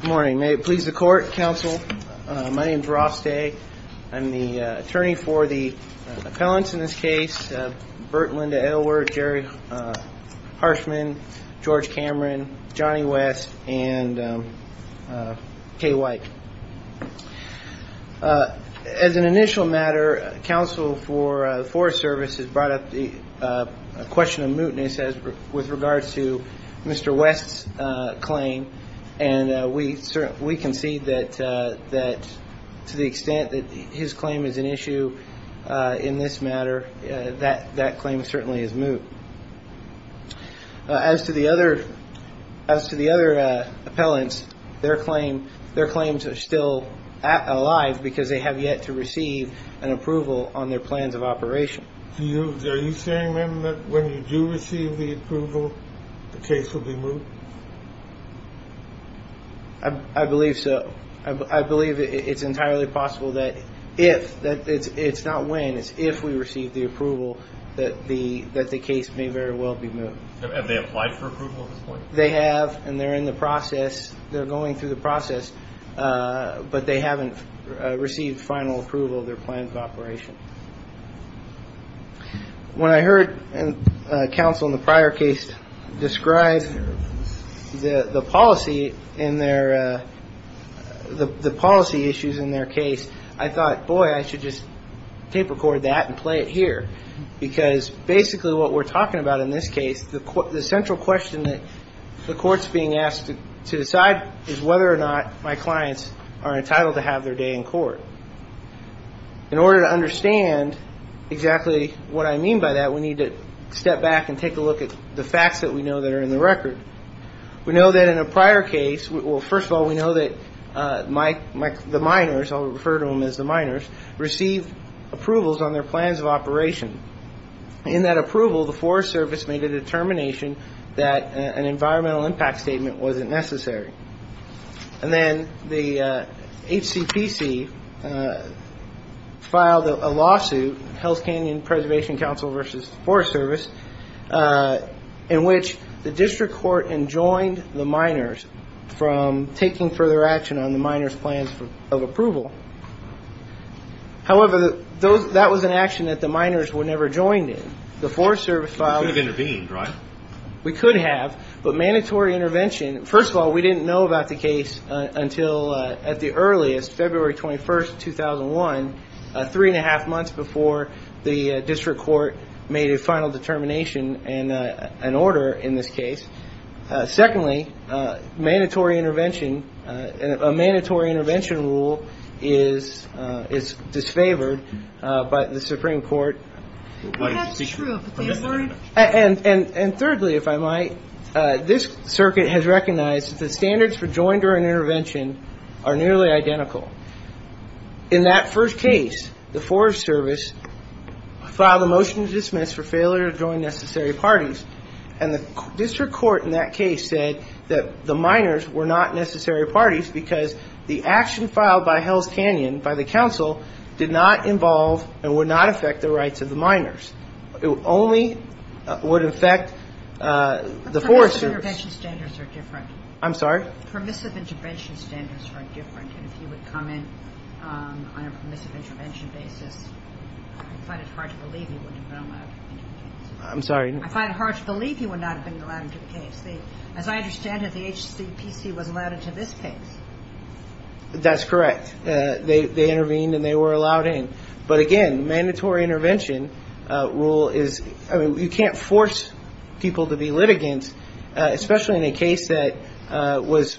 Good morning. May it please the court, counsel. My name is Ross Day. I'm the attorney for the appellants in this case. Burt Linda Aylward, Jerry Harshman, George Cameron, Johnny West, and Kay Weick. As an initial matter, counsel for the Forest Service has brought up the question of mootness with regards to Mr. West's claim. And we concede that to the extent that his claim is an issue in this matter, that claim certainly is moot. As to the other appellants, their claims are still alive because they have yet to receive an approval on their plans of operation. Are you saying, then, that when you do receive the approval, the case will be moot? I believe so. I believe it's entirely possible that if, it's not when, it's if we receive the approval, that the case may very well be moot. Have they applied for approval at this point? They have, and they're in the process, they're going through the process, but they haven't received final approval of their plans of operation. When I heard counsel in the prior case describe the policy in their, the policy issues in their case, I thought, boy, I should just tape record that and play it here. Because basically what we're talking about in this case, the central question that the court's being asked to decide is whether or not my clients are entitled to have their day in court. In order to understand exactly what I mean by that, we need to step back and take a look at the facts that we know that are in the record. We know that in a prior case, well, first of all, we know that the minors, I'll refer to them as the minors, received approvals on their plans of operation. In that approval, the Forest Service made a determination that an environmental impact statement wasn't necessary. And then the HCPC filed a lawsuit, Hell's Canyon Preservation Council versus the Forest Service, in which the district court enjoined the minors from taking further action on the minors' plans of approval. However, that was an action that the minors were never joined in. The Forest Service filed a- We could have intervened, right? We could have, but mandatory intervention. First of all, we didn't know about the case until at the earliest, February 21st, 2001, three-and-a-half months before the district court made a final determination and an order in this case. Secondly, mandatory intervention, a mandatory intervention rule is disfavored by the Supreme Court. That's true. And thirdly, if I might, this circuit has recognized that the standards for joinder and intervention are nearly identical. In that first case, the Forest Service filed a motion to dismiss for failure to join necessary parties, and the district court in that case said that the minors were not necessary parties because the action filed by Hell's Canyon by the council did not involve and would not affect the rights of the minors. It only would affect the Forest Service- I'm sorry? on a permissive intervention basis. I find it hard to believe you wouldn't have been allowed into the case. I'm sorry? I find it hard to believe you would not have been allowed into the case. As I understand it, the HCPC was allowed into this case. That's correct. They intervened, and they were allowed in. But again, mandatory intervention rule is- I mean, you can't force people to be litigants, especially in a case that was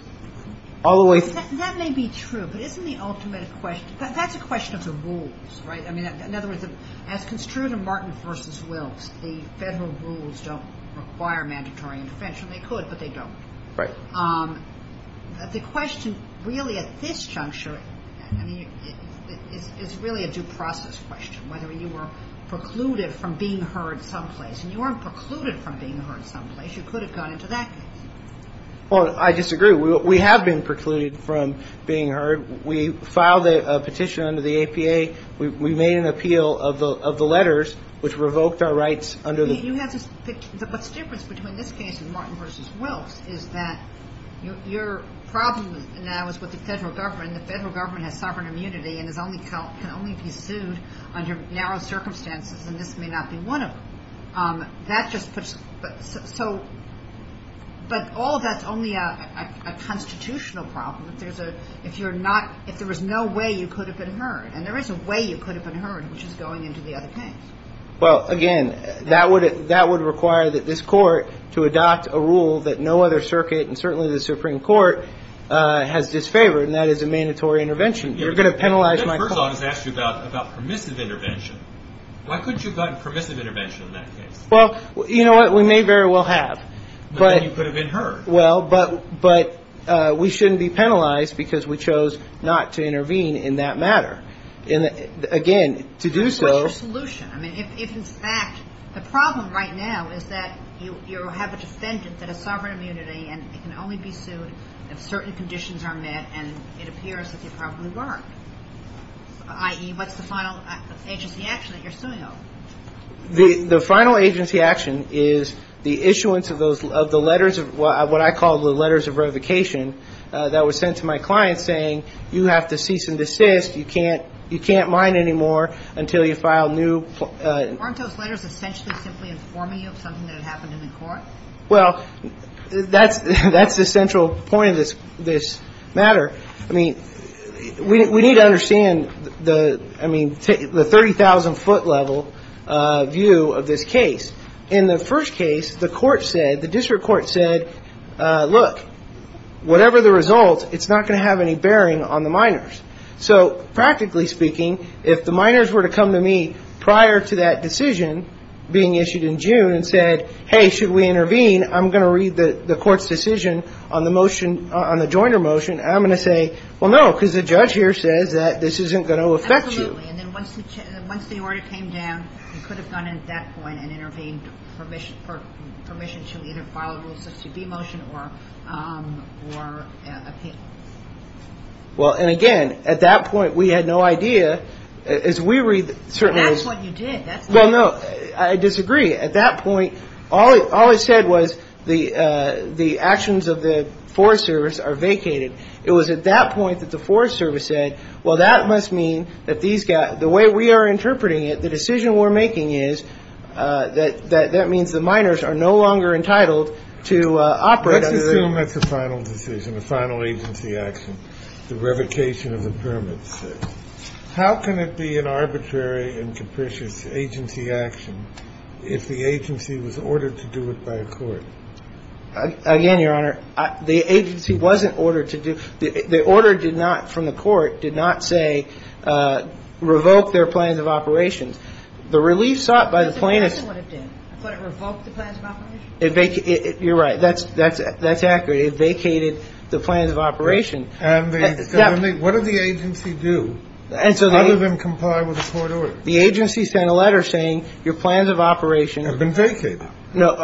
all the way- That may be true, but isn't the ultimate question- that's a question of the rules, right? In other words, as construed in Martin v. Wilkes, the federal rules don't require mandatory intervention. They could, but they don't. Right. The question really at this juncture is really a due process question, whether you were precluded from being heard someplace. And you weren't precluded from being heard someplace. You could have gone into that case. Well, I disagree. We have been precluded from being heard. We filed a petition under the APA. We made an appeal of the letters, which revoked our rights under the- But the difference between this case and Martin v. Wilkes is that your problem now is with the federal government, and the federal government has sovereign immunity and can only be sued under narrow circumstances, and this may not be one of them. But all of that's only a constitutional problem. If there was no way you could have been heard, and there is a way you could have been heard, which is going into the other case. Well, again, that would require that this court to adopt a rule that no other circuit and certainly the Supreme Court has disfavored, and that is a mandatory intervention. You're going to penalize my- The judge, first of all, has asked you about permissive intervention. Why couldn't you have gotten permissive intervention in that case? Well, you know what? We may very well have. But then you could have been heard. Well, but we shouldn't be penalized because we chose not to intervene in that matter. Again, to do so- What's your solution? I mean, if in fact the problem right now is that you have a defendant that has sovereign immunity and it can only be sued if certain conditions are met and it appears that they probably weren't, i.e., what's the final agency action that you're suing over? The final agency action is the issuance of the letters of what I call the letters of revocation that were sent to my client saying you have to cease and desist, you can't mine anymore until you file new- Weren't those letters essentially simply informing you of something that had happened in the court? Well, that's the central point of this matter. I mean, we need to understand the 30,000-foot level view of this case. In the first case, the court said, the district court said, look, whatever the result, it's not going to have any bearing on the miners. So practically speaking, if the miners were to come to me prior to that decision being issued in June and said, hey, should we intervene? I'm going to read the court's decision on the motion, on the joiner motion, and I'm going to say, well, no, because the judge here says that this isn't going to affect you. Absolutely. And then once the order came down, you could have gone in at that point and intervened for permission to either file a Rule 6CB motion or appeal. Well, and again, at that point, we had no idea. As we read certain- That's what you did. Well, no, I disagree. At that point, all it said was the actions of the Forest Service are vacated. It was at that point that the Forest Service said, well, that must mean that these guys, the way we are interpreting it, the decision we're making is that that means the miners are no longer entitled to operate. Let's assume that's a final decision, a final agency action, the revocation of the permits. How can it be an arbitrary and capricious agency action if the agency was ordered to do it by a court? Again, Your Honor, the agency wasn't ordered to do – the order did not, from the court, did not say revoke their plans of operations. The relief sought by the plaintiffs- That's exactly what it did. I thought it revoked the plans of operations. You're right. That's accurate. It vacated the plans of operations. What did the agency do other than comply with the court order? The agency sent a letter saying your plans of operations- Have been vacated. No,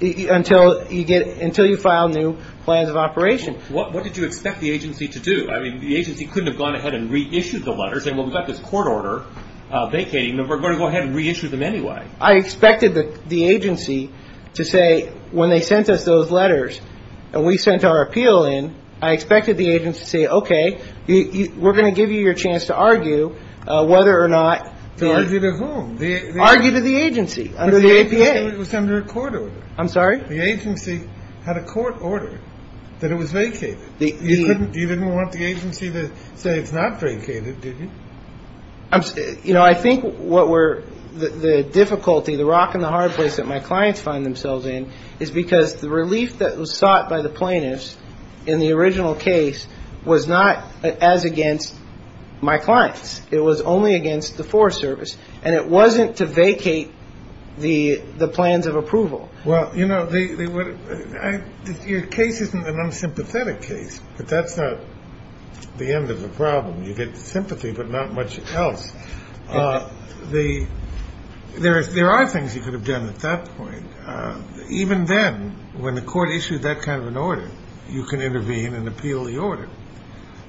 until you file new plans of operations. What did you expect the agency to do? I mean, the agency couldn't have gone ahead and reissued the letter saying, well, we've got this court order vacating. We're going to go ahead and reissue them anyway. I expected the agency to say when they sent us those letters and we sent our appeal in, I expected the agency to say, okay, we're going to give you your chance to argue whether or not- To argue to whom? Argue to the agency under the APA. But the agency said it was under a court order. I'm sorry? The agency had a court order that it was vacated. You didn't want the agency to say it's not vacated, did you? You know, I think what we're – the difficulty, the rock and the hard place that my clients find themselves in is because the relief that was sought by the plaintiffs in the original case was not as against my clients. It was only against the Forest Service. And it wasn't to vacate the plans of approval. Well, you know, your case isn't an unsympathetic case, but that's not the end of the problem. You get sympathy but not much else. There are things you could have done at that point. Even then, when the court issued that kind of an order, you can intervene and appeal the order.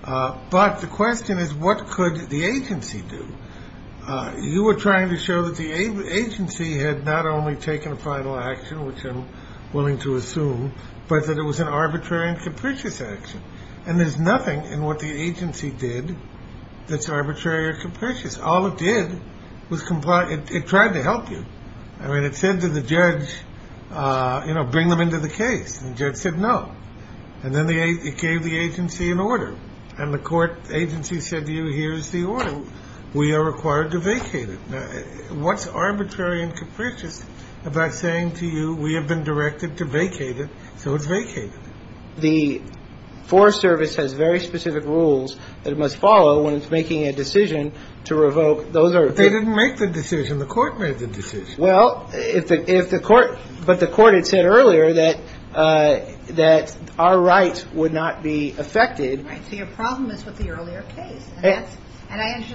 But the question is what could the agency do? You were trying to show that the agency had not only taken a final action, which I'm willing to assume, but that it was an arbitrary and capricious action. And there's nothing in what the agency did that's arbitrary or capricious. All it did was comply – it tried to help you. I mean, it said to the judge, you know, bring them into the case. And the judge said no. And then it gave the agency an order. And the court agency said to you, here's the order. We are required to vacate it. Now, what's arbitrary and capricious about saying to you, we have been directed to vacate it, so it's vacated? The Forest Service has very specific rules that it must follow when it's making a decision to revoke. Those are – But they didn't make the decision. The court made the decision. Well, if the court – but the court had said earlier that our rights would not be affected. Right. So your problem is with the earlier case.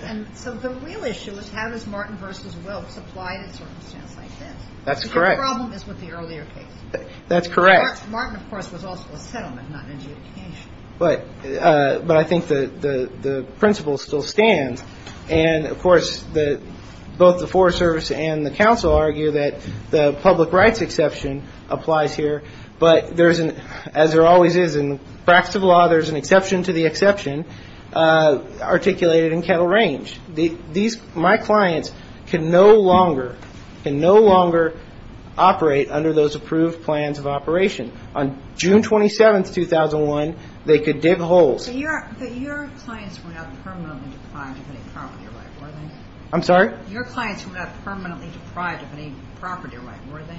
And so the real issue is how does Martin v. Wilkes apply in a circumstance like this? That's correct. So your problem is with the earlier case. That's correct. Martin, of course, was also a settlement, not an adjudication. But I think the principle still stands. And, of course, both the Forest Service and the counsel argue that the public rights exception applies here. But there's an – as there always is in the practice of law, there's an exception to the exception articulated in Kettle Range. These – my clients can no longer – can no longer operate under those approved plans of operation. On June 27, 2001, they could dig holes. But your clients were not permanently deprived of any property right, were they? I'm sorry? Your clients were not permanently deprived of any property right, were they?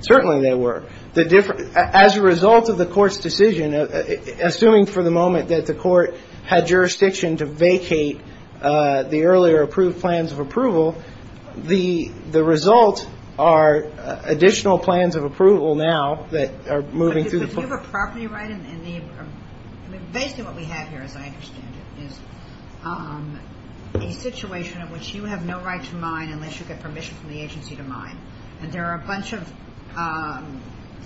Certainly they were. The – as a result of the court's decision, assuming for the moment that the court had jurisdiction to vacate the earlier approved plans of approval, the result are additional plans of approval now that are moving through the court. Do you have a property right in the – I mean, basically what we have here, as I understand it, is a situation in which you have no right to mine unless you get permission from the agency to mine. And there are a bunch of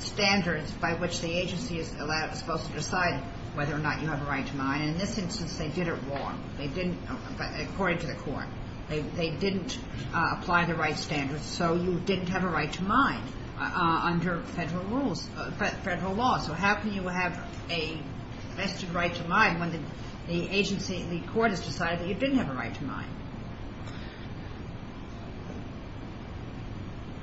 standards by which the agency is supposed to decide whether or not you have a right to mine. And in this instance, they did it wrong. They didn't – according to the court, they didn't apply the right standards. So you didn't have a right to mine under federal rules – federal law. So how can you have a vested right to mine when the agency – the court has decided that you didn't have a right to mine?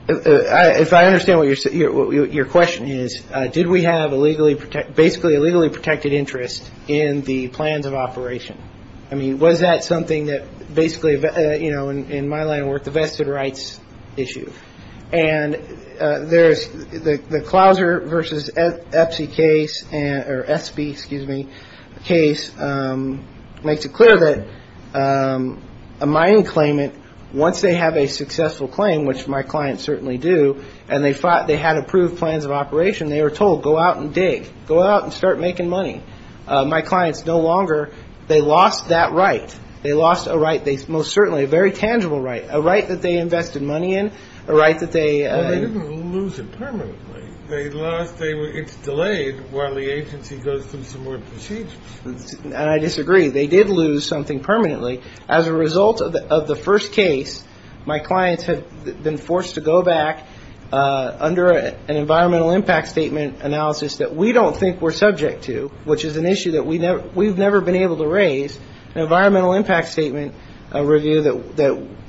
If I understand what your question is, did we have a legally – basically a legally protected interest in the plans of operation? I mean, was that something that basically, you know, in my line of work, the vested rights issue? And there's – the Clouser v. EPSI case – or SB, excuse me – case makes it clear that a mining claimant, once they have a successful claim, which my clients certainly do, and they thought they had approved plans of operation, they were told, go out and dig. Go out and start making money. My clients no longer – they lost that right. They lost a right, most certainly a very tangible right, a right that they invested money in, a right that they – Well, they didn't lose it permanently. They lost – it's delayed while the agency goes through some more procedures. And I disagree. They did lose something permanently. As a result of the first case, my clients have been forced to go back under an environmental impact statement analysis that we don't think we're subject to, which is an issue that we've never been able to raise, an environmental impact statement review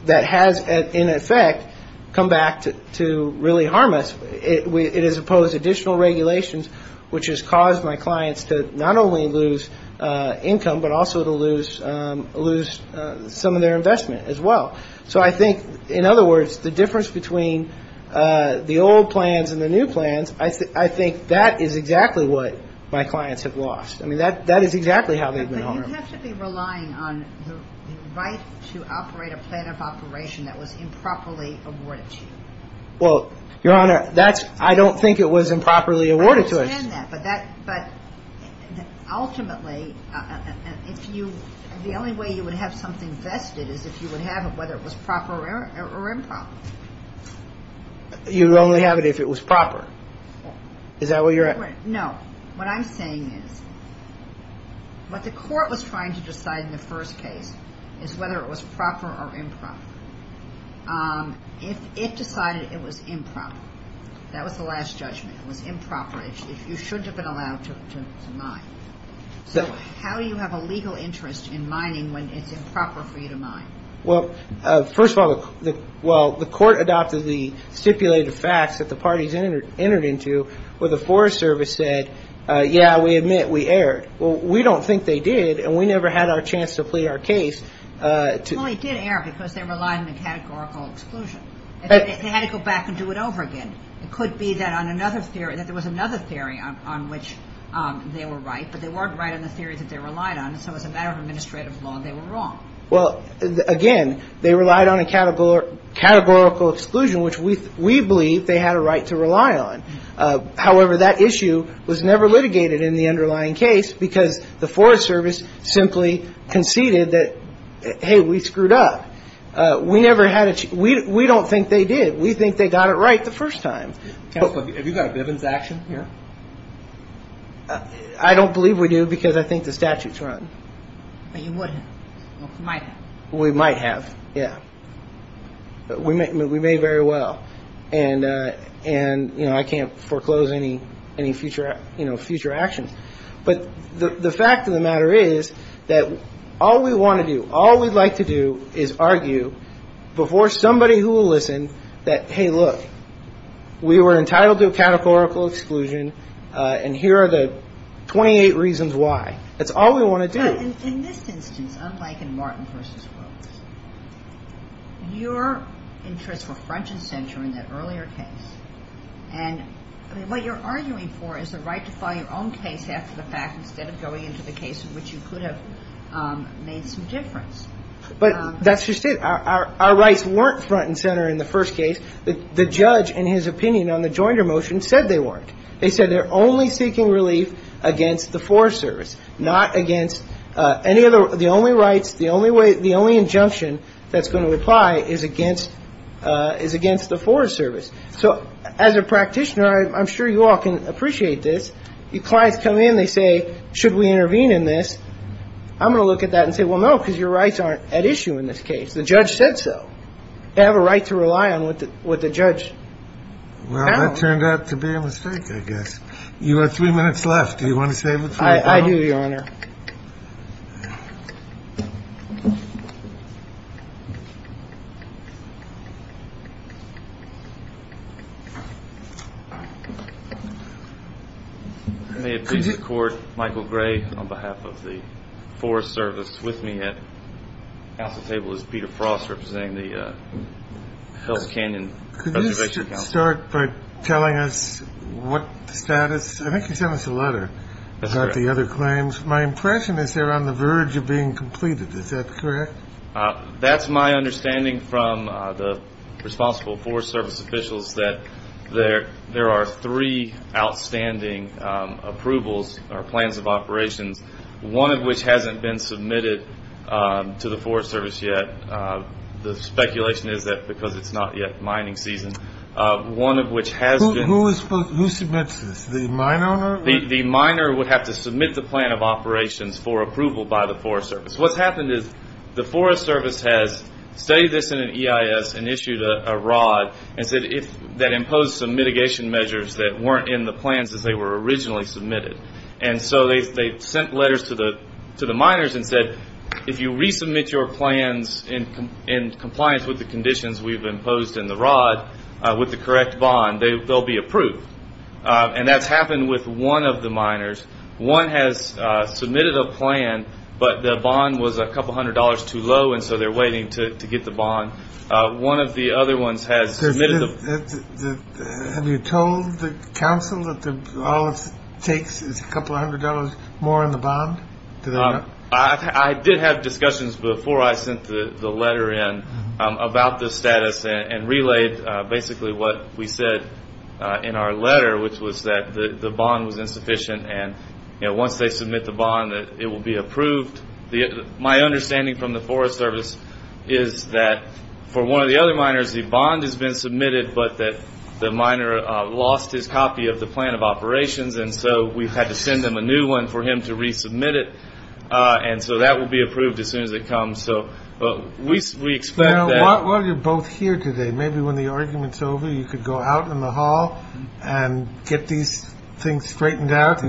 that has, in effect, come back to really harm us. It has imposed additional regulations, which has caused my clients to not only lose income, but also to lose some of their investment as well. So I think, in other words, the difference between the old plans and the new plans, I think that is exactly what my clients have lost. I mean, that is exactly how they've been harmed. But you have to be relying on the right to operate a plan of operation that was improperly awarded to you. Well, Your Honor, that's – I don't think it was improperly awarded to us. I understand that. But ultimately, if you – the only way you would have something vested is if you would have it, whether it was proper or improper. You would only have it if it was proper. Is that where you're at? No. What I'm saying is what the court was trying to decide in the first case is whether it was proper or improper. It decided it was improper. That was the last judgment. It was improper if you shouldn't have been allowed to mine. So how do you have a legal interest in mining when it's improper for you to mine? Well, first of all, the court adopted the stipulated facts that the parties entered into where the Forest Service said, yeah, we admit we erred. Well, we don't think they did, and we never had our chance to plead our case. Well, they did err because they relied on the categorical exclusion. They had to go back and do it over again. It could be that on another theory – that there was another theory on which they were right, but they weren't right on the theory that they relied on, so as a matter of administrative law, they were wrong. Well, again, they relied on a categorical exclusion, which we believe they had a right to rely on. However, that issue was never litigated in the underlying case because the Forest Service simply conceded that, hey, we screwed up. We don't think they did. We think they got it right the first time. Counsel, have you got a Bivens action here? I don't believe we do because I think the statute's run. But you would have. You might have. We might have, yeah. We may very well. And, you know, I can't foreclose any future actions. But the fact of the matter is that all we want to do, all we'd like to do is argue before somebody who will listen that, hey, look, we were entitled to a categorical exclusion, and here are the 28 reasons why. That's all we want to do. In this instance, unlike in Martin v. Wilkes, your interests were front and center in that earlier case. And what you're arguing for is the right to file your own case after the fact instead of going into the case in which you could have made some difference. But that's just it. Our rights weren't front and center in the first case. The judge, in his opinion on the Joinder motion, said they weren't. They said they're only seeking relief against the Forest Service, not against any other. The only rights, the only way, the only injunction that's going to apply is against the Forest Service. So as a practitioner, I'm sure you all can appreciate this. Your clients come in. They say, should we intervene in this? I'm going to look at that and say, well, no, because your rights aren't at issue in this case. The judge said so. They have a right to rely on what the judge found. That turned out to be a mistake, I guess. You have three minutes left. Do you want to save it? I do, Your Honor. May it please the Court. Michael Gray on behalf of the Forest Service with me at the table is Peter Frost representing the Health Canyon. Could you start by telling us what status? I think you sent us a letter about the other claims. My impression is they're on the verge of being completed. Is that correct? That's my understanding from the responsible Forest Service officials, that there are three outstanding approvals or plans of operations, one of which hasn't been submitted to the Forest Service yet. The speculation is that because it's not yet mining season. Who submits this, the mine owner? The miner would have to submit the plan of operations for approval by the Forest Service. What's happened is the Forest Service has studied this in an EIS and issued a rod that imposed some mitigation measures that weren't in the plans as they were originally submitted. They sent letters to the miners and said, if you resubmit your plans in compliance with the conditions we've imposed in the rod with the correct bond, they'll be approved. That's happened with one of the miners. One has submitted a plan, but the bond was a couple hundred dollars too low, and so they're waiting to get the bond. Have you told the council that all it takes is a couple hundred dollars more on the bond? I did have discussions before I sent the letter in about the status and relayed basically what we said in our letter, which was that the bond was insufficient and once they submit the bond, it will be approved. My understanding from the Forest Service is that for one of the other miners, the bond has been submitted, but the miner lost his copy of the plan of operations, and so we've had to send them a new one for him to resubmit it, and so that will be approved as soon as it comes. We expect that. While you're both here today, maybe when the argument's over, you could go out in the hall and get these things straightened out.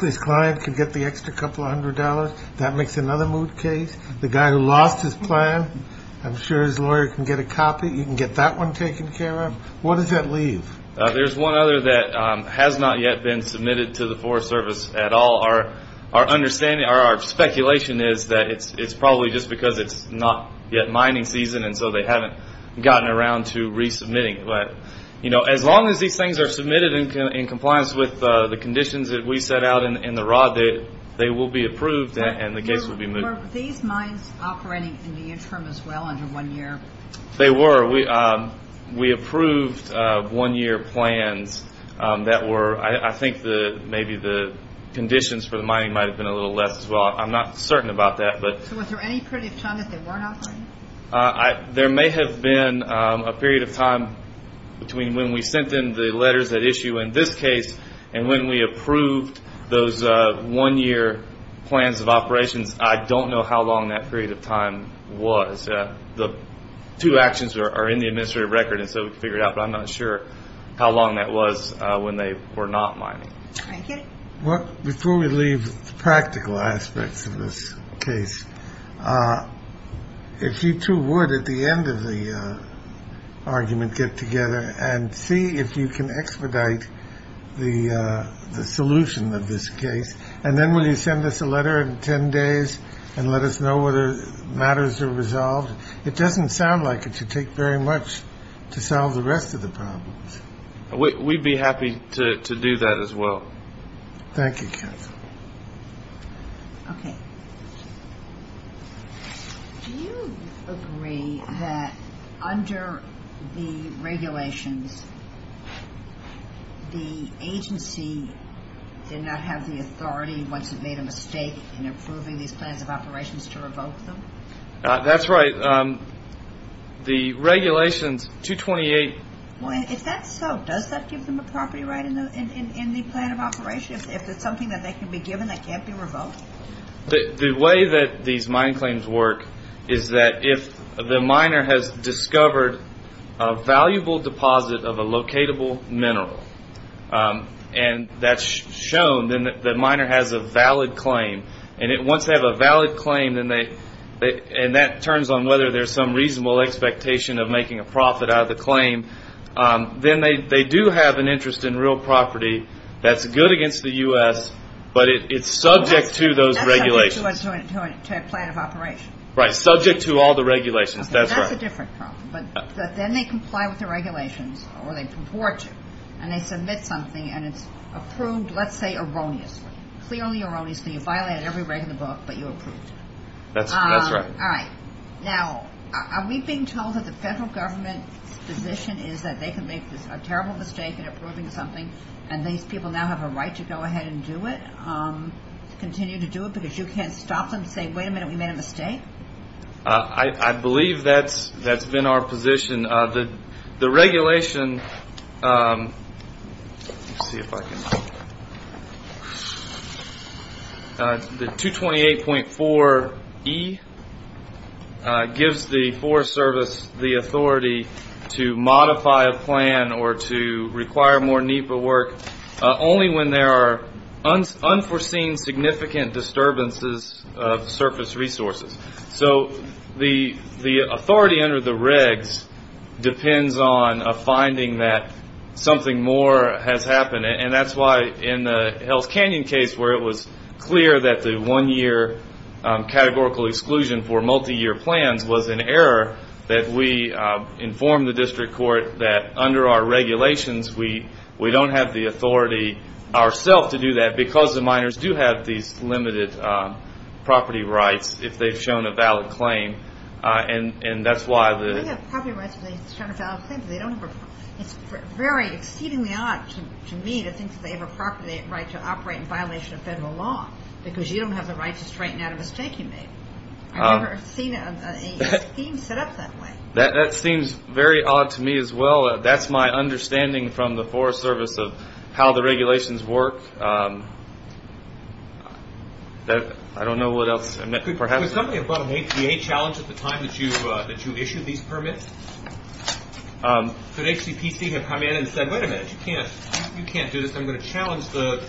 This client could get the extra couple hundred dollars. That makes another moot case. The guy who lost his plan, I'm sure his lawyer can get a copy. You can get that one taken care of. What does that leave? There's one other that has not yet been submitted to the Forest Service at all. Our speculation is that it's probably just because it's not yet mining season, and so they haven't gotten around to resubmitting it. As long as these things are submitted in compliance with the conditions that we set out in the rod, they will be approved and the case will be moved. Were these mines operating in the interim as well, under one year? They were. We approved one-year plans that were, I think maybe the conditions for the mining might have been a little less as well. I'm not certain about that. So was there any period of time that they weren't operating? There may have been a period of time between when we sent in the letters at issue in this case and when we approved those one-year plans of operations. I don't know how long that period of time was. The two actions are in the administrative record, and so we can figure it out, but I'm not sure how long that was when they were not mining. Thank you. Before we leave the practical aspects of this case, if you two would at the end of the argument get together and see if you can expedite the solution of this case, and then will you send us a letter in 10 days and let us know whether matters are resolved? It doesn't sound like it should take very much to solve the rest of the problems. We'd be happy to do that as well. Thank you, Ken. Okay. Do you agree that under the regulations, the agency did not have the authority once it made a mistake in approving these plans of operations to revoke them? That's right. The regulations, 228. If that's so, does that give them a property right in the plan of operation? If it's something that they can be given that can't be revoked? The way that these mine claims work is that if the miner has discovered a valuable deposit of a locatable mineral and that's shown, then the miner has a valid claim. And once they have a valid claim, and that turns on whether there's some reasonable expectation of making a profit out of the claim, then they do have an interest in real property that's good against the U.S., but it's subject to those regulations. To a plan of operation. Right, subject to all the regulations. That's a different problem. But then they comply with the regulations, or they purport to, and they submit something and it's approved, let's say, erroneously. Clearly erroneously. You violated every right in the book, but you approved it. That's right. Now, are we being told that the federal government's position is that they can make a terrible mistake in approving something and these people now have a right to go ahead and do it, continue to do it because you can't stop them and say, wait a minute, we made a mistake? I believe that's been our position. The regulation, let's see if I can, the 228.4E gives the Forest Service the authority to modify a plan or to require more NEPA work only when there are unforeseen significant disturbances of surface resources. So the authority under the regs depends on a finding that something more has happened, and that's why in the Hell's Canyon case where it was clear that the one-year categorical exclusion for multi-year plans was an error, that we informed the district court that under our regulations we don't have the authority ourselves to do that because the miners do have these limited property rights if they've shown a valid claim. And that's why the – It's very exceedingly odd to me to think that they have a property right to operate in violation of federal law because you don't have the right to straighten out a mistake you made. I've never seen a scheme set up that way. That seems very odd to me as well. That's my understanding from the Forest Service of how the regulations work. I don't know what else. Could somebody have brought an APA challenge at the time that you issued these permits? Could HCPC have come in and said, wait a minute, you can't do this, I'm going to challenge the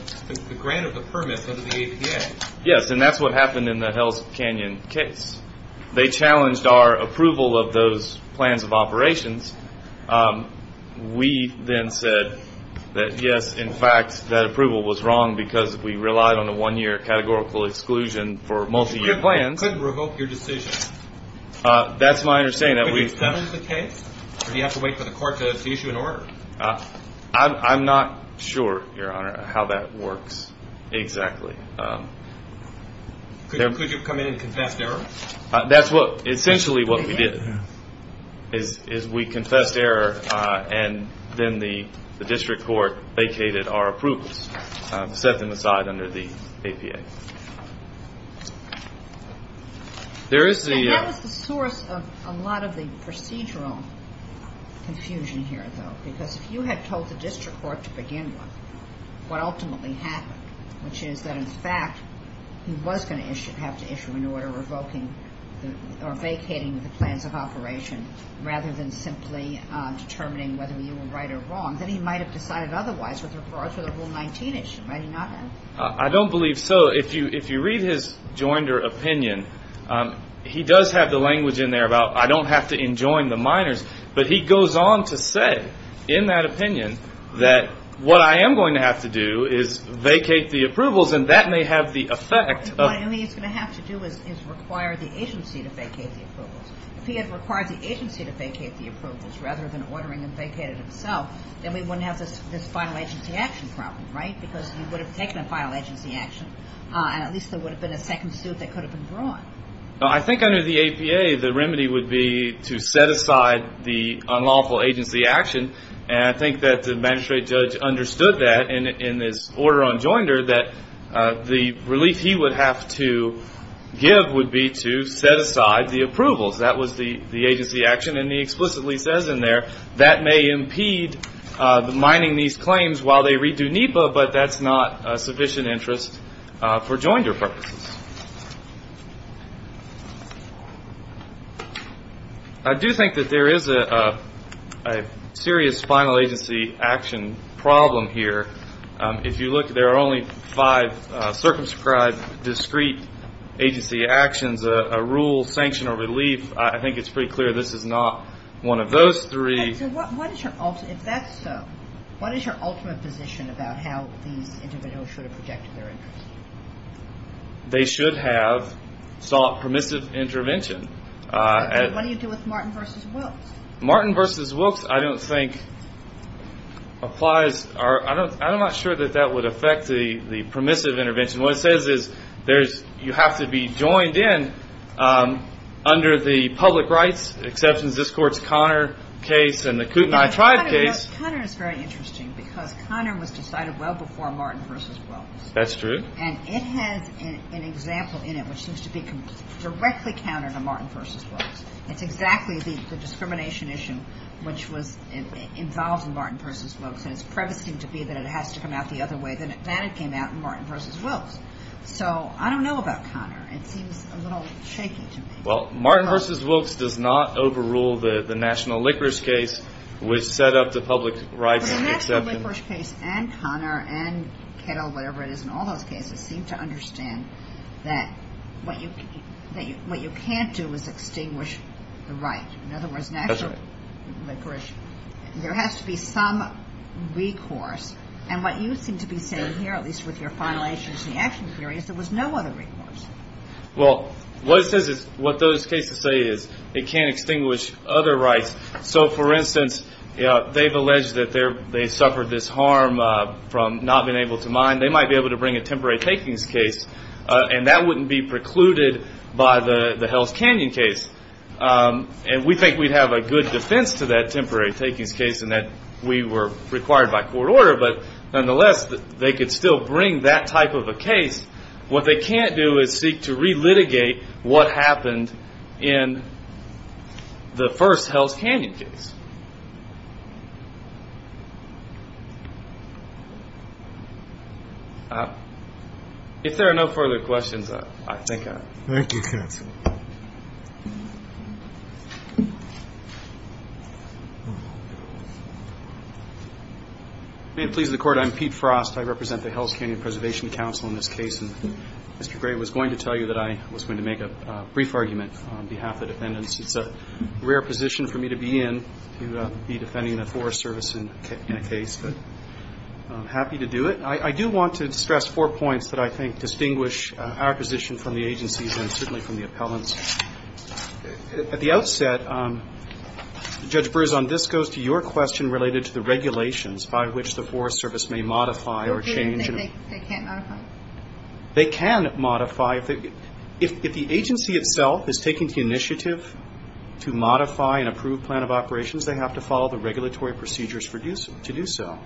grant of the permit under the APA? Yes, and that's what happened in the Hell's Canyon case. They challenged our approval of those plans of operations. We then said that yes, in fact, that approval was wrong because we relied on the one-year categorical exclusion for multi-year plans. You couldn't revoke your decision. That's my understanding. Could you challenge the case or do you have to wait for the court to issue an order? I'm not sure, Your Honor, how that works exactly. Could you have come in and confessed error? Essentially what we did is we confessed error and then the district court vacated our approvals, set them aside under the APA. That was the source of a lot of the procedural confusion here, though, because if you had told the district court to begin with what ultimately happened, which is that, in fact, he was going to have to issue an order revoking or vacating the plans of operation rather than simply determining whether you were right or wrong, then he might have decided otherwise with regards to the Rule 19 issue, right? I don't believe so. If you read his joinder opinion, he does have the language in there about I don't have to enjoin the minors, but he goes on to say in that opinion that what I am going to have to do is vacate the approvals and that may have the effect of — What he's going to have to do is require the agency to vacate the approvals. If he had required the agency to vacate the approvals rather than ordering them vacated himself, then we wouldn't have this final agency action problem, right? Because he would have taken a final agency action, and at least there would have been a second suit that could have been brought. I think under the APA, the remedy would be to set aside the unlawful agency action, and I think that the magistrate judge understood that in his order on joinder, that the relief he would have to give would be to set aside the approvals. That was the agency action, and he explicitly says in there, that may impede the mining these claims while they redo NEPA, but that's not a sufficient interest for joinder purposes. I do think that there is a serious final agency action problem here. If you look, there are only five circumscribed discrete agency actions, a rule, sanction, or relief. I think it's pretty clear this is not one of those three. If that's so, what is your ultimate position about how these individuals should have projected their interest? They should have sought permissive intervention. What do you do with Martin v. Wilkes? Martin v. Wilkes, I don't think applies. I'm not sure that that would affect the permissive intervention. What it says is you have to be joined in under the public rights exceptions. This court's Connor case and the Kootenai tribe case. Connor is very interesting because Connor was decided well before Martin v. Wilkes. That's true. And it has an example in it which seems to be directly counter to Martin v. Wilkes. It's exactly the discrimination issue which was involved in Martin v. Wilkes, and it's prevasting to be that it has to come out the other way. Then it came out in Martin v. Wilkes. So I don't know about Connor. It seems a little shaky to me. Well, Martin v. Wilkes does not overrule the national licorice case, which set up the public rights exceptions. The national licorice case and Connor and Kettle, whatever it is, in all those cases seem to understand that what you can't do is extinguish the right. In other words, national licorice. There has to be some recourse. And what you seem to be saying here, at least with your final actions in the action period, is there was no other recourse. Well, what those cases say is it can't extinguish other rights. So, for instance, they've alleged that they suffered this harm from not being able to mine. They might be able to bring a temporary takings case, and that wouldn't be precluded by the Hell's Canyon case. And we think we'd have a good defense to that temporary takings case in that we were required by court order. But nonetheless, they could still bring that type of a case. What they can't do is seek to re-litigate what happened in the first Hell's Canyon case. If there are no further questions, I think I'm done. Thank you, counsel. May it please the Court, I'm Pete Frost. I represent the Hell's Canyon Preservation Council in this case, and Mr. Gray was going to tell you that I was going to make a brief argument on behalf of the defendants. It's a rare position for me to be in, to be defending the Forest Service in a case, but I'm happy to do it. And I do want to stress four points that I think distinguish our position from the agency's and certainly from the appellant's. At the outset, Judge Berzon, this goes to your question related to the regulations by which the Forest Service may modify or change. They can't modify? They can modify. If the agency itself is taking the initiative to modify and approve plan of operations, they have to follow the regulatory procedures to do so.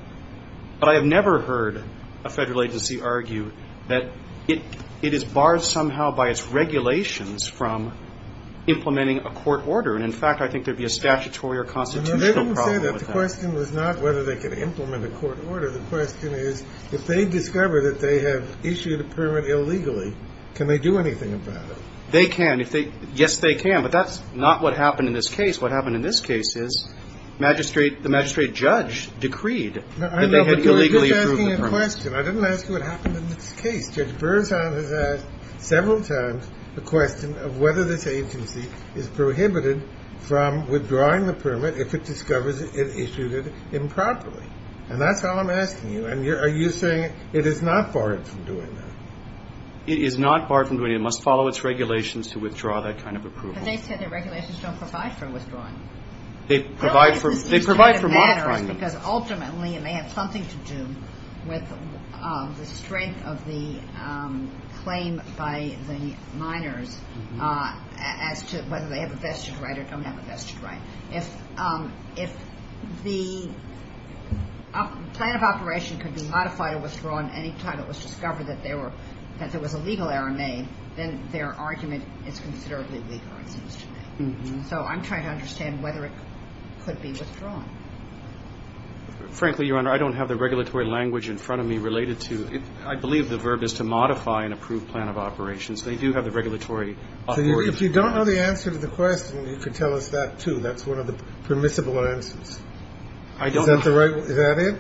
But I have never heard a federal agency argue that it is barred somehow by its regulations from implementing a court order. And, in fact, I think there would be a statutory or constitutional problem with that. No, they didn't say that. The question was not whether they could implement a court order. The question is if they discover that they have issued a permit illegally, can they do anything about it? They can. Yes, they can. But that's not what happened in this case. What happened in this case is the magistrate judge decreed that they had illegally approved the permit. I know, but you're just asking a question. I didn't ask you what happened in this case. Judge Berzon has asked several times the question of whether this agency is prohibited from withdrawing the permit if it discovers it issued it improperly. And that's all I'm asking you. And are you saying it is not barred from doing that? It is not barred from doing it. It must follow its regulations to withdraw that kind of approval. But they said their regulations don't provide for withdrawing. They provide for modifying them. Because, ultimately, it may have something to do with the strength of the claim by the minors as to whether they have a vested right or don't have a vested right. If the plan of operation could be modified or withdrawn any time it was discovered that there was a legal error made, then their argument is considerably weaker, it seems to me. So I'm trying to understand whether it could be withdrawn. Frankly, Your Honor, I don't have the regulatory language in front of me related to it. I believe the verb is to modify an approved plan of operations. They do have the regulatory authority. If you don't know the answer to the question, you could tell us that, too. That's one of the permissible answers. I don't know. Is that it?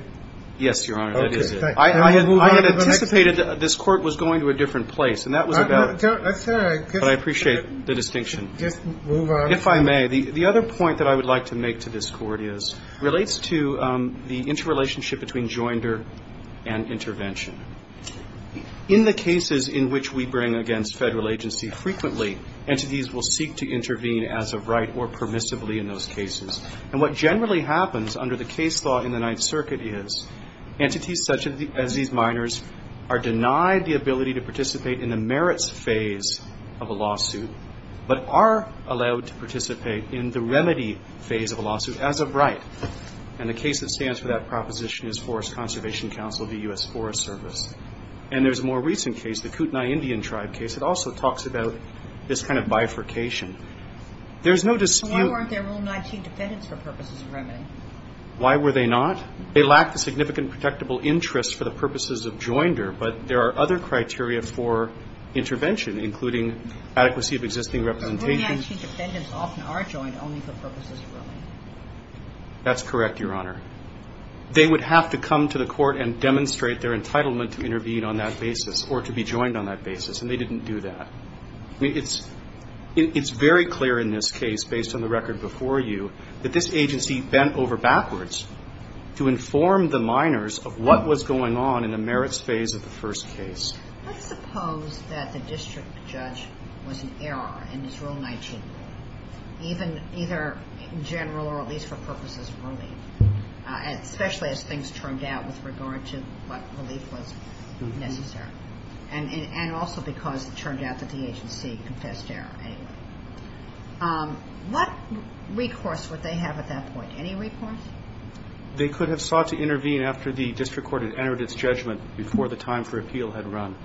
Yes, Your Honor. That is it. I anticipated this Court was going to a different place. And that was about it. But I appreciate the distinction. Just move on. If I may, the other point that I would like to make to this Court is, relates to the interrelationship between joinder and intervention. In the cases in which we bring against Federal agency frequently, entities will seek to intervene as of right or permissibly in those cases. And what generally happens under the case law in the Ninth Circuit is entities such as these minors are denied the ability to participate in the merits phase of a lawsuit but are allowed to participate in the remedy phase of a lawsuit as of right. And the case that stands for that proposition is Forest Conservation Council of the U.S. Forest Service. And there's a more recent case, the Kootenai Indian Tribe case that also talks about this kind of bifurcation. There's no dispute. Why weren't there Rule 19 defendants for purposes of remedy? Why were they not? They lack the significant protectable interest for the purposes of joinder. But there are other criteria for intervention, including adequacy of existing representation. Rule 19 defendants often are joined only for purposes of remedy. That's correct, Your Honor. They would have to come to the Court and demonstrate their entitlement to intervene on that basis or to be joined on that basis. And they didn't do that. I mean, it's very clear in this case, based on the record before you, that this agency bent over backwards to inform the minors of what was going on in the merits phase of the first case. Let's suppose that the district judge was an error in this Rule 19, even either in general or at least for purposes of relief, especially as things turned out with regard to what relief was necessary. And also because it turned out that the agency confessed error anyway. What recourse would they have at that point? Any recourse? They could have sought to intervene after the district court had entered its judgment before the time for appeal had run,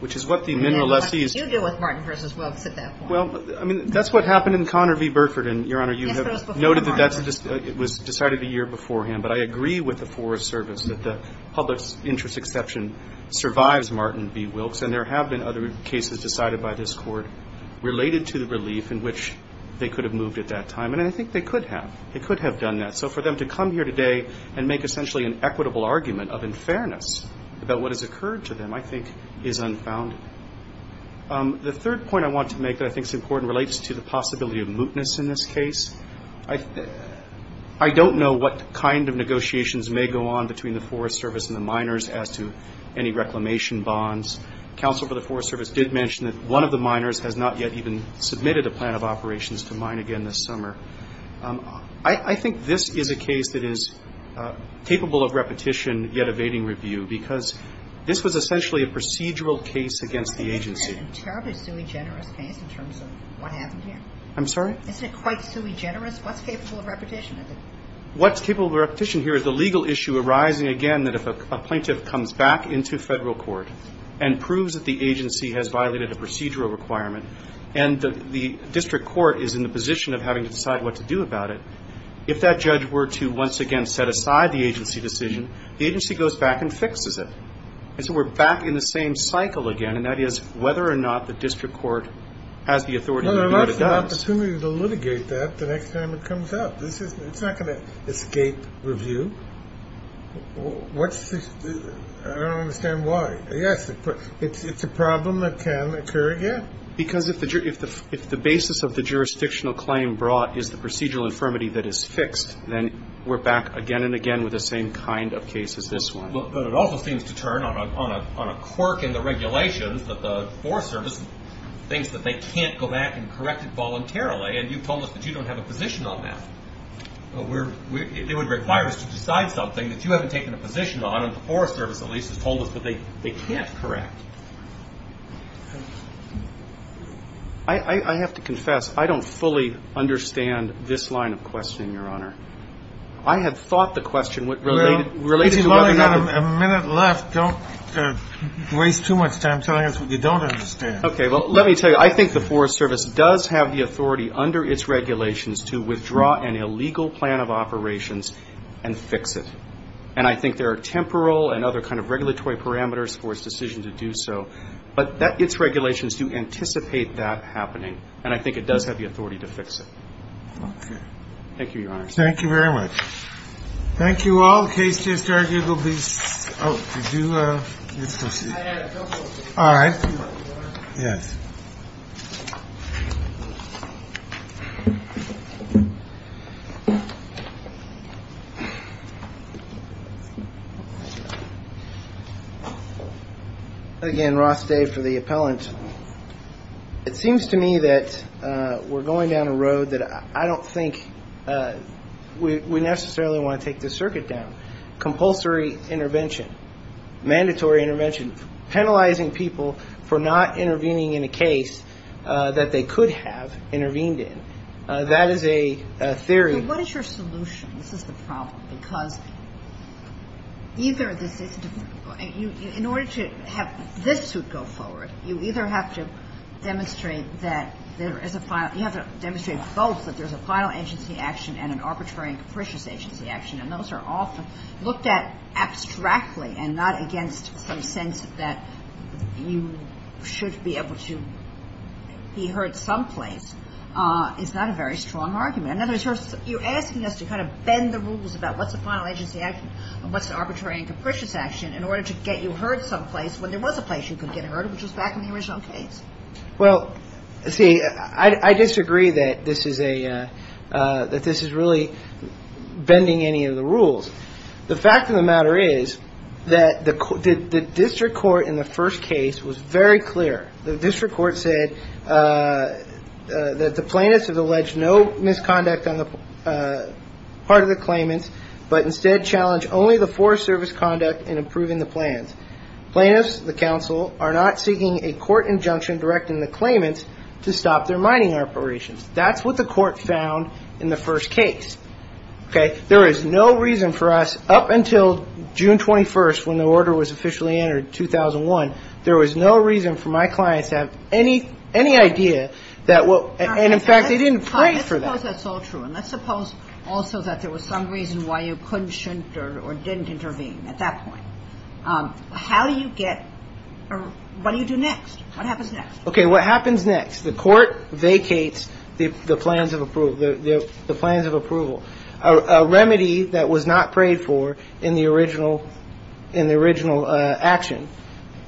which is what the minor lessee is to do. You deal with Martin v. Wilkes at that point. Well, I mean, that's what happened in Connor v. Burford. And, Your Honor, you have noted that it was decided a year beforehand. But I agree with the Forest Service that the public's interest exception survives Martin v. Wilkes. And there have been other cases decided by this Court related to the relief in which they could have moved at that time. And I think they could have. They could have done that. So for them to come here today and make essentially an equitable argument of unfairness about what has occurred to them, I think, is unfound. The third point I want to make that I think is important relates to the possibility of mootness in this case. I don't know what kind of negotiations may go on between the Forest Service and the minors as to any reclamation bonds. Counsel for the Forest Service did mention that one of the minors has not yet even submitted a plan of operations to mine again this summer. I think this is a case that is capable of repetition, yet evading review, because this was essentially a procedural case against the agency. It's a terribly sui generis case in terms of what happened here. I'm sorry? Isn't it quite sui generis? What's capable of repetition? What's capable of repetition here is the legal issue arising again that if a plaintiff comes back into Federal court and proves that the agency has violated a procedural requirement and the district court is in the position of having to decide what to do about it, if that judge were to once again set aside the agency decision, the agency goes back and fixes it. And so we're back in the same cycle again, and that is whether or not the district court has the authority to do what it does. Well, there's an opportunity to litigate that the next time it comes up. It's not going to escape review. I don't understand why. Yes, it's a problem that can occur again. Because if the basis of the jurisdictional claim brought is the procedural infirmity that is fixed, then we're back again and again with the same kind of case as this one. But it also seems to turn on a quirk in the regulations that the Forest Service thinks that they can't go back and correct it voluntarily, and you've told us that you don't have a position on that. It would require us to decide something that you haven't taken a position on, and the Forest Service at least has told us that they can't correct. I have to confess, I don't fully understand this line of questioning, Your Honor. I had thought the question related to whether or not the ---- Well, if you've only got a minute left, don't waste too much time telling us what you don't understand. Okay. Well, let me tell you. I think the Forest Service does have the authority under its regulations to withdraw an illegal plan of operations and fix it. And I think there are temporal and other kind of regulatory parameters for its decision to do so. But its regulations do anticipate that happening, and I think it does have the authority to fix it. Thank you, Your Honor. Thank you very much. Thank you all. The case just argued will be ---- Oh, did you? Let's go see. I had a couple of questions. All right. Yes. Again, Ross Day for the appellant. It seems to me that we're going down a road that I don't think we necessarily want to take this circuit down. Compulsory intervention. Mandatory intervention. Penalizing people for not intervening in a case that they could have intervened in. That is a theory. So what is your solution? This is the problem. Well, I don't think it's a very strong argument, because either this is ---- in order to have this suit go forward, you either have to demonstrate that there is a final ---- you have to demonstrate both that there's a final agency action and an arbitrary and capricious agency action. And those are often looked at abstractly and not against some sense that you should be able to be heard someplace. It's not a very strong argument. In other words, you're asking us to kind of bend the rules about what's a final agency action and what's an arbitrary and capricious action in order to get you heard someplace when there was a place you could get heard, which was back in the original case. Well, see, I disagree that this is a ---- that this is really bending any of the rules. The fact of the matter is that the district court in the first case was very clear. The district court said that the plaintiffs have alleged no misconduct on the part of the claimants, but instead challenged only the Forest Service conduct in approving the plans. Plaintiffs, the counsel, are not seeking a court injunction directing the claimants to stop their mining operations. That's what the court found in the first case. Okay? There is no reason for us, up until June 21st, when the order was officially entered, 2001, there was no reason for my clients to have any idea that what ---- and, in fact, they didn't pray for that. Let's suppose that's all true, and let's suppose also that there was some reason why you couldn't, shouldn't or didn't intervene at that point. How do you get or what do you do next? What happens next? Okay. What happens next? The court vacates the plans of approval, the plans of approval, a remedy that was not prayed for in the original action.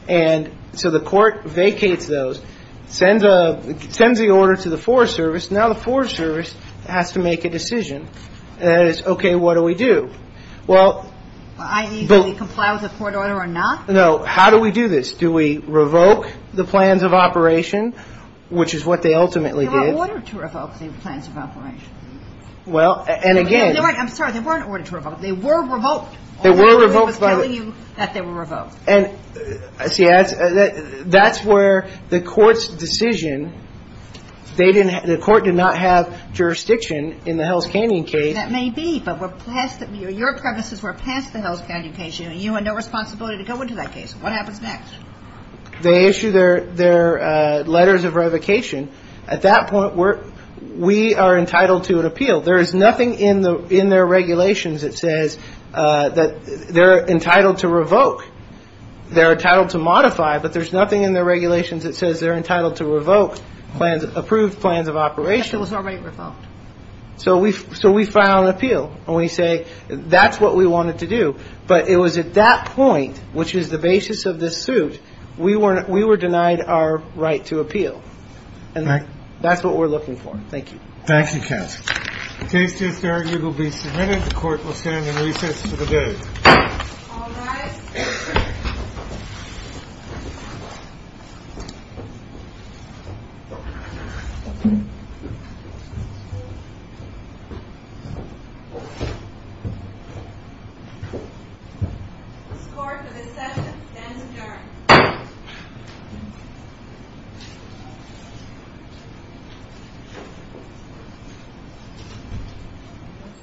And so the court vacates those, sends the order to the Forest Service. Now the Forest Service has to make a decision that is, okay, what do we do? Well, but ---- I.e., do we comply with the court order or not? No. How do we do this? Do we revoke the plans of operation, which is what they ultimately did? They were ordered to revoke the plans of operation. Well, and again ---- I'm sorry. They weren't ordered to revoke. They were revoked. They were revoked by the ---- I'm telling you that they were revoked. And see, that's where the court's decision, they didn't ---- the court did not have jurisdiction in the Hell's Canyon case. That may be, but we're past the ---- your premises were past the Hell's Canyon case, and you had no responsibility to go into that case. What happens next? They issue their letters of revocation. At that point, we are entitled to an appeal. There is nothing in their regulations that says that they're entitled to revoke. They're entitled to modify, but there's nothing in their regulations that says they're entitled to revoke plans, approved plans of operation. But it was already revoked. So we file an appeal, and we say that's what we wanted to do. But it was at that point, which is the basis of this suit, we were denied our right to appeal. And that's what we're looking for. Thank you. Thank you, counsel. The case is adjourned. It will be submitted. The court will stand in recess for the day. All rise. The score for this session stands adjourned. Thank you.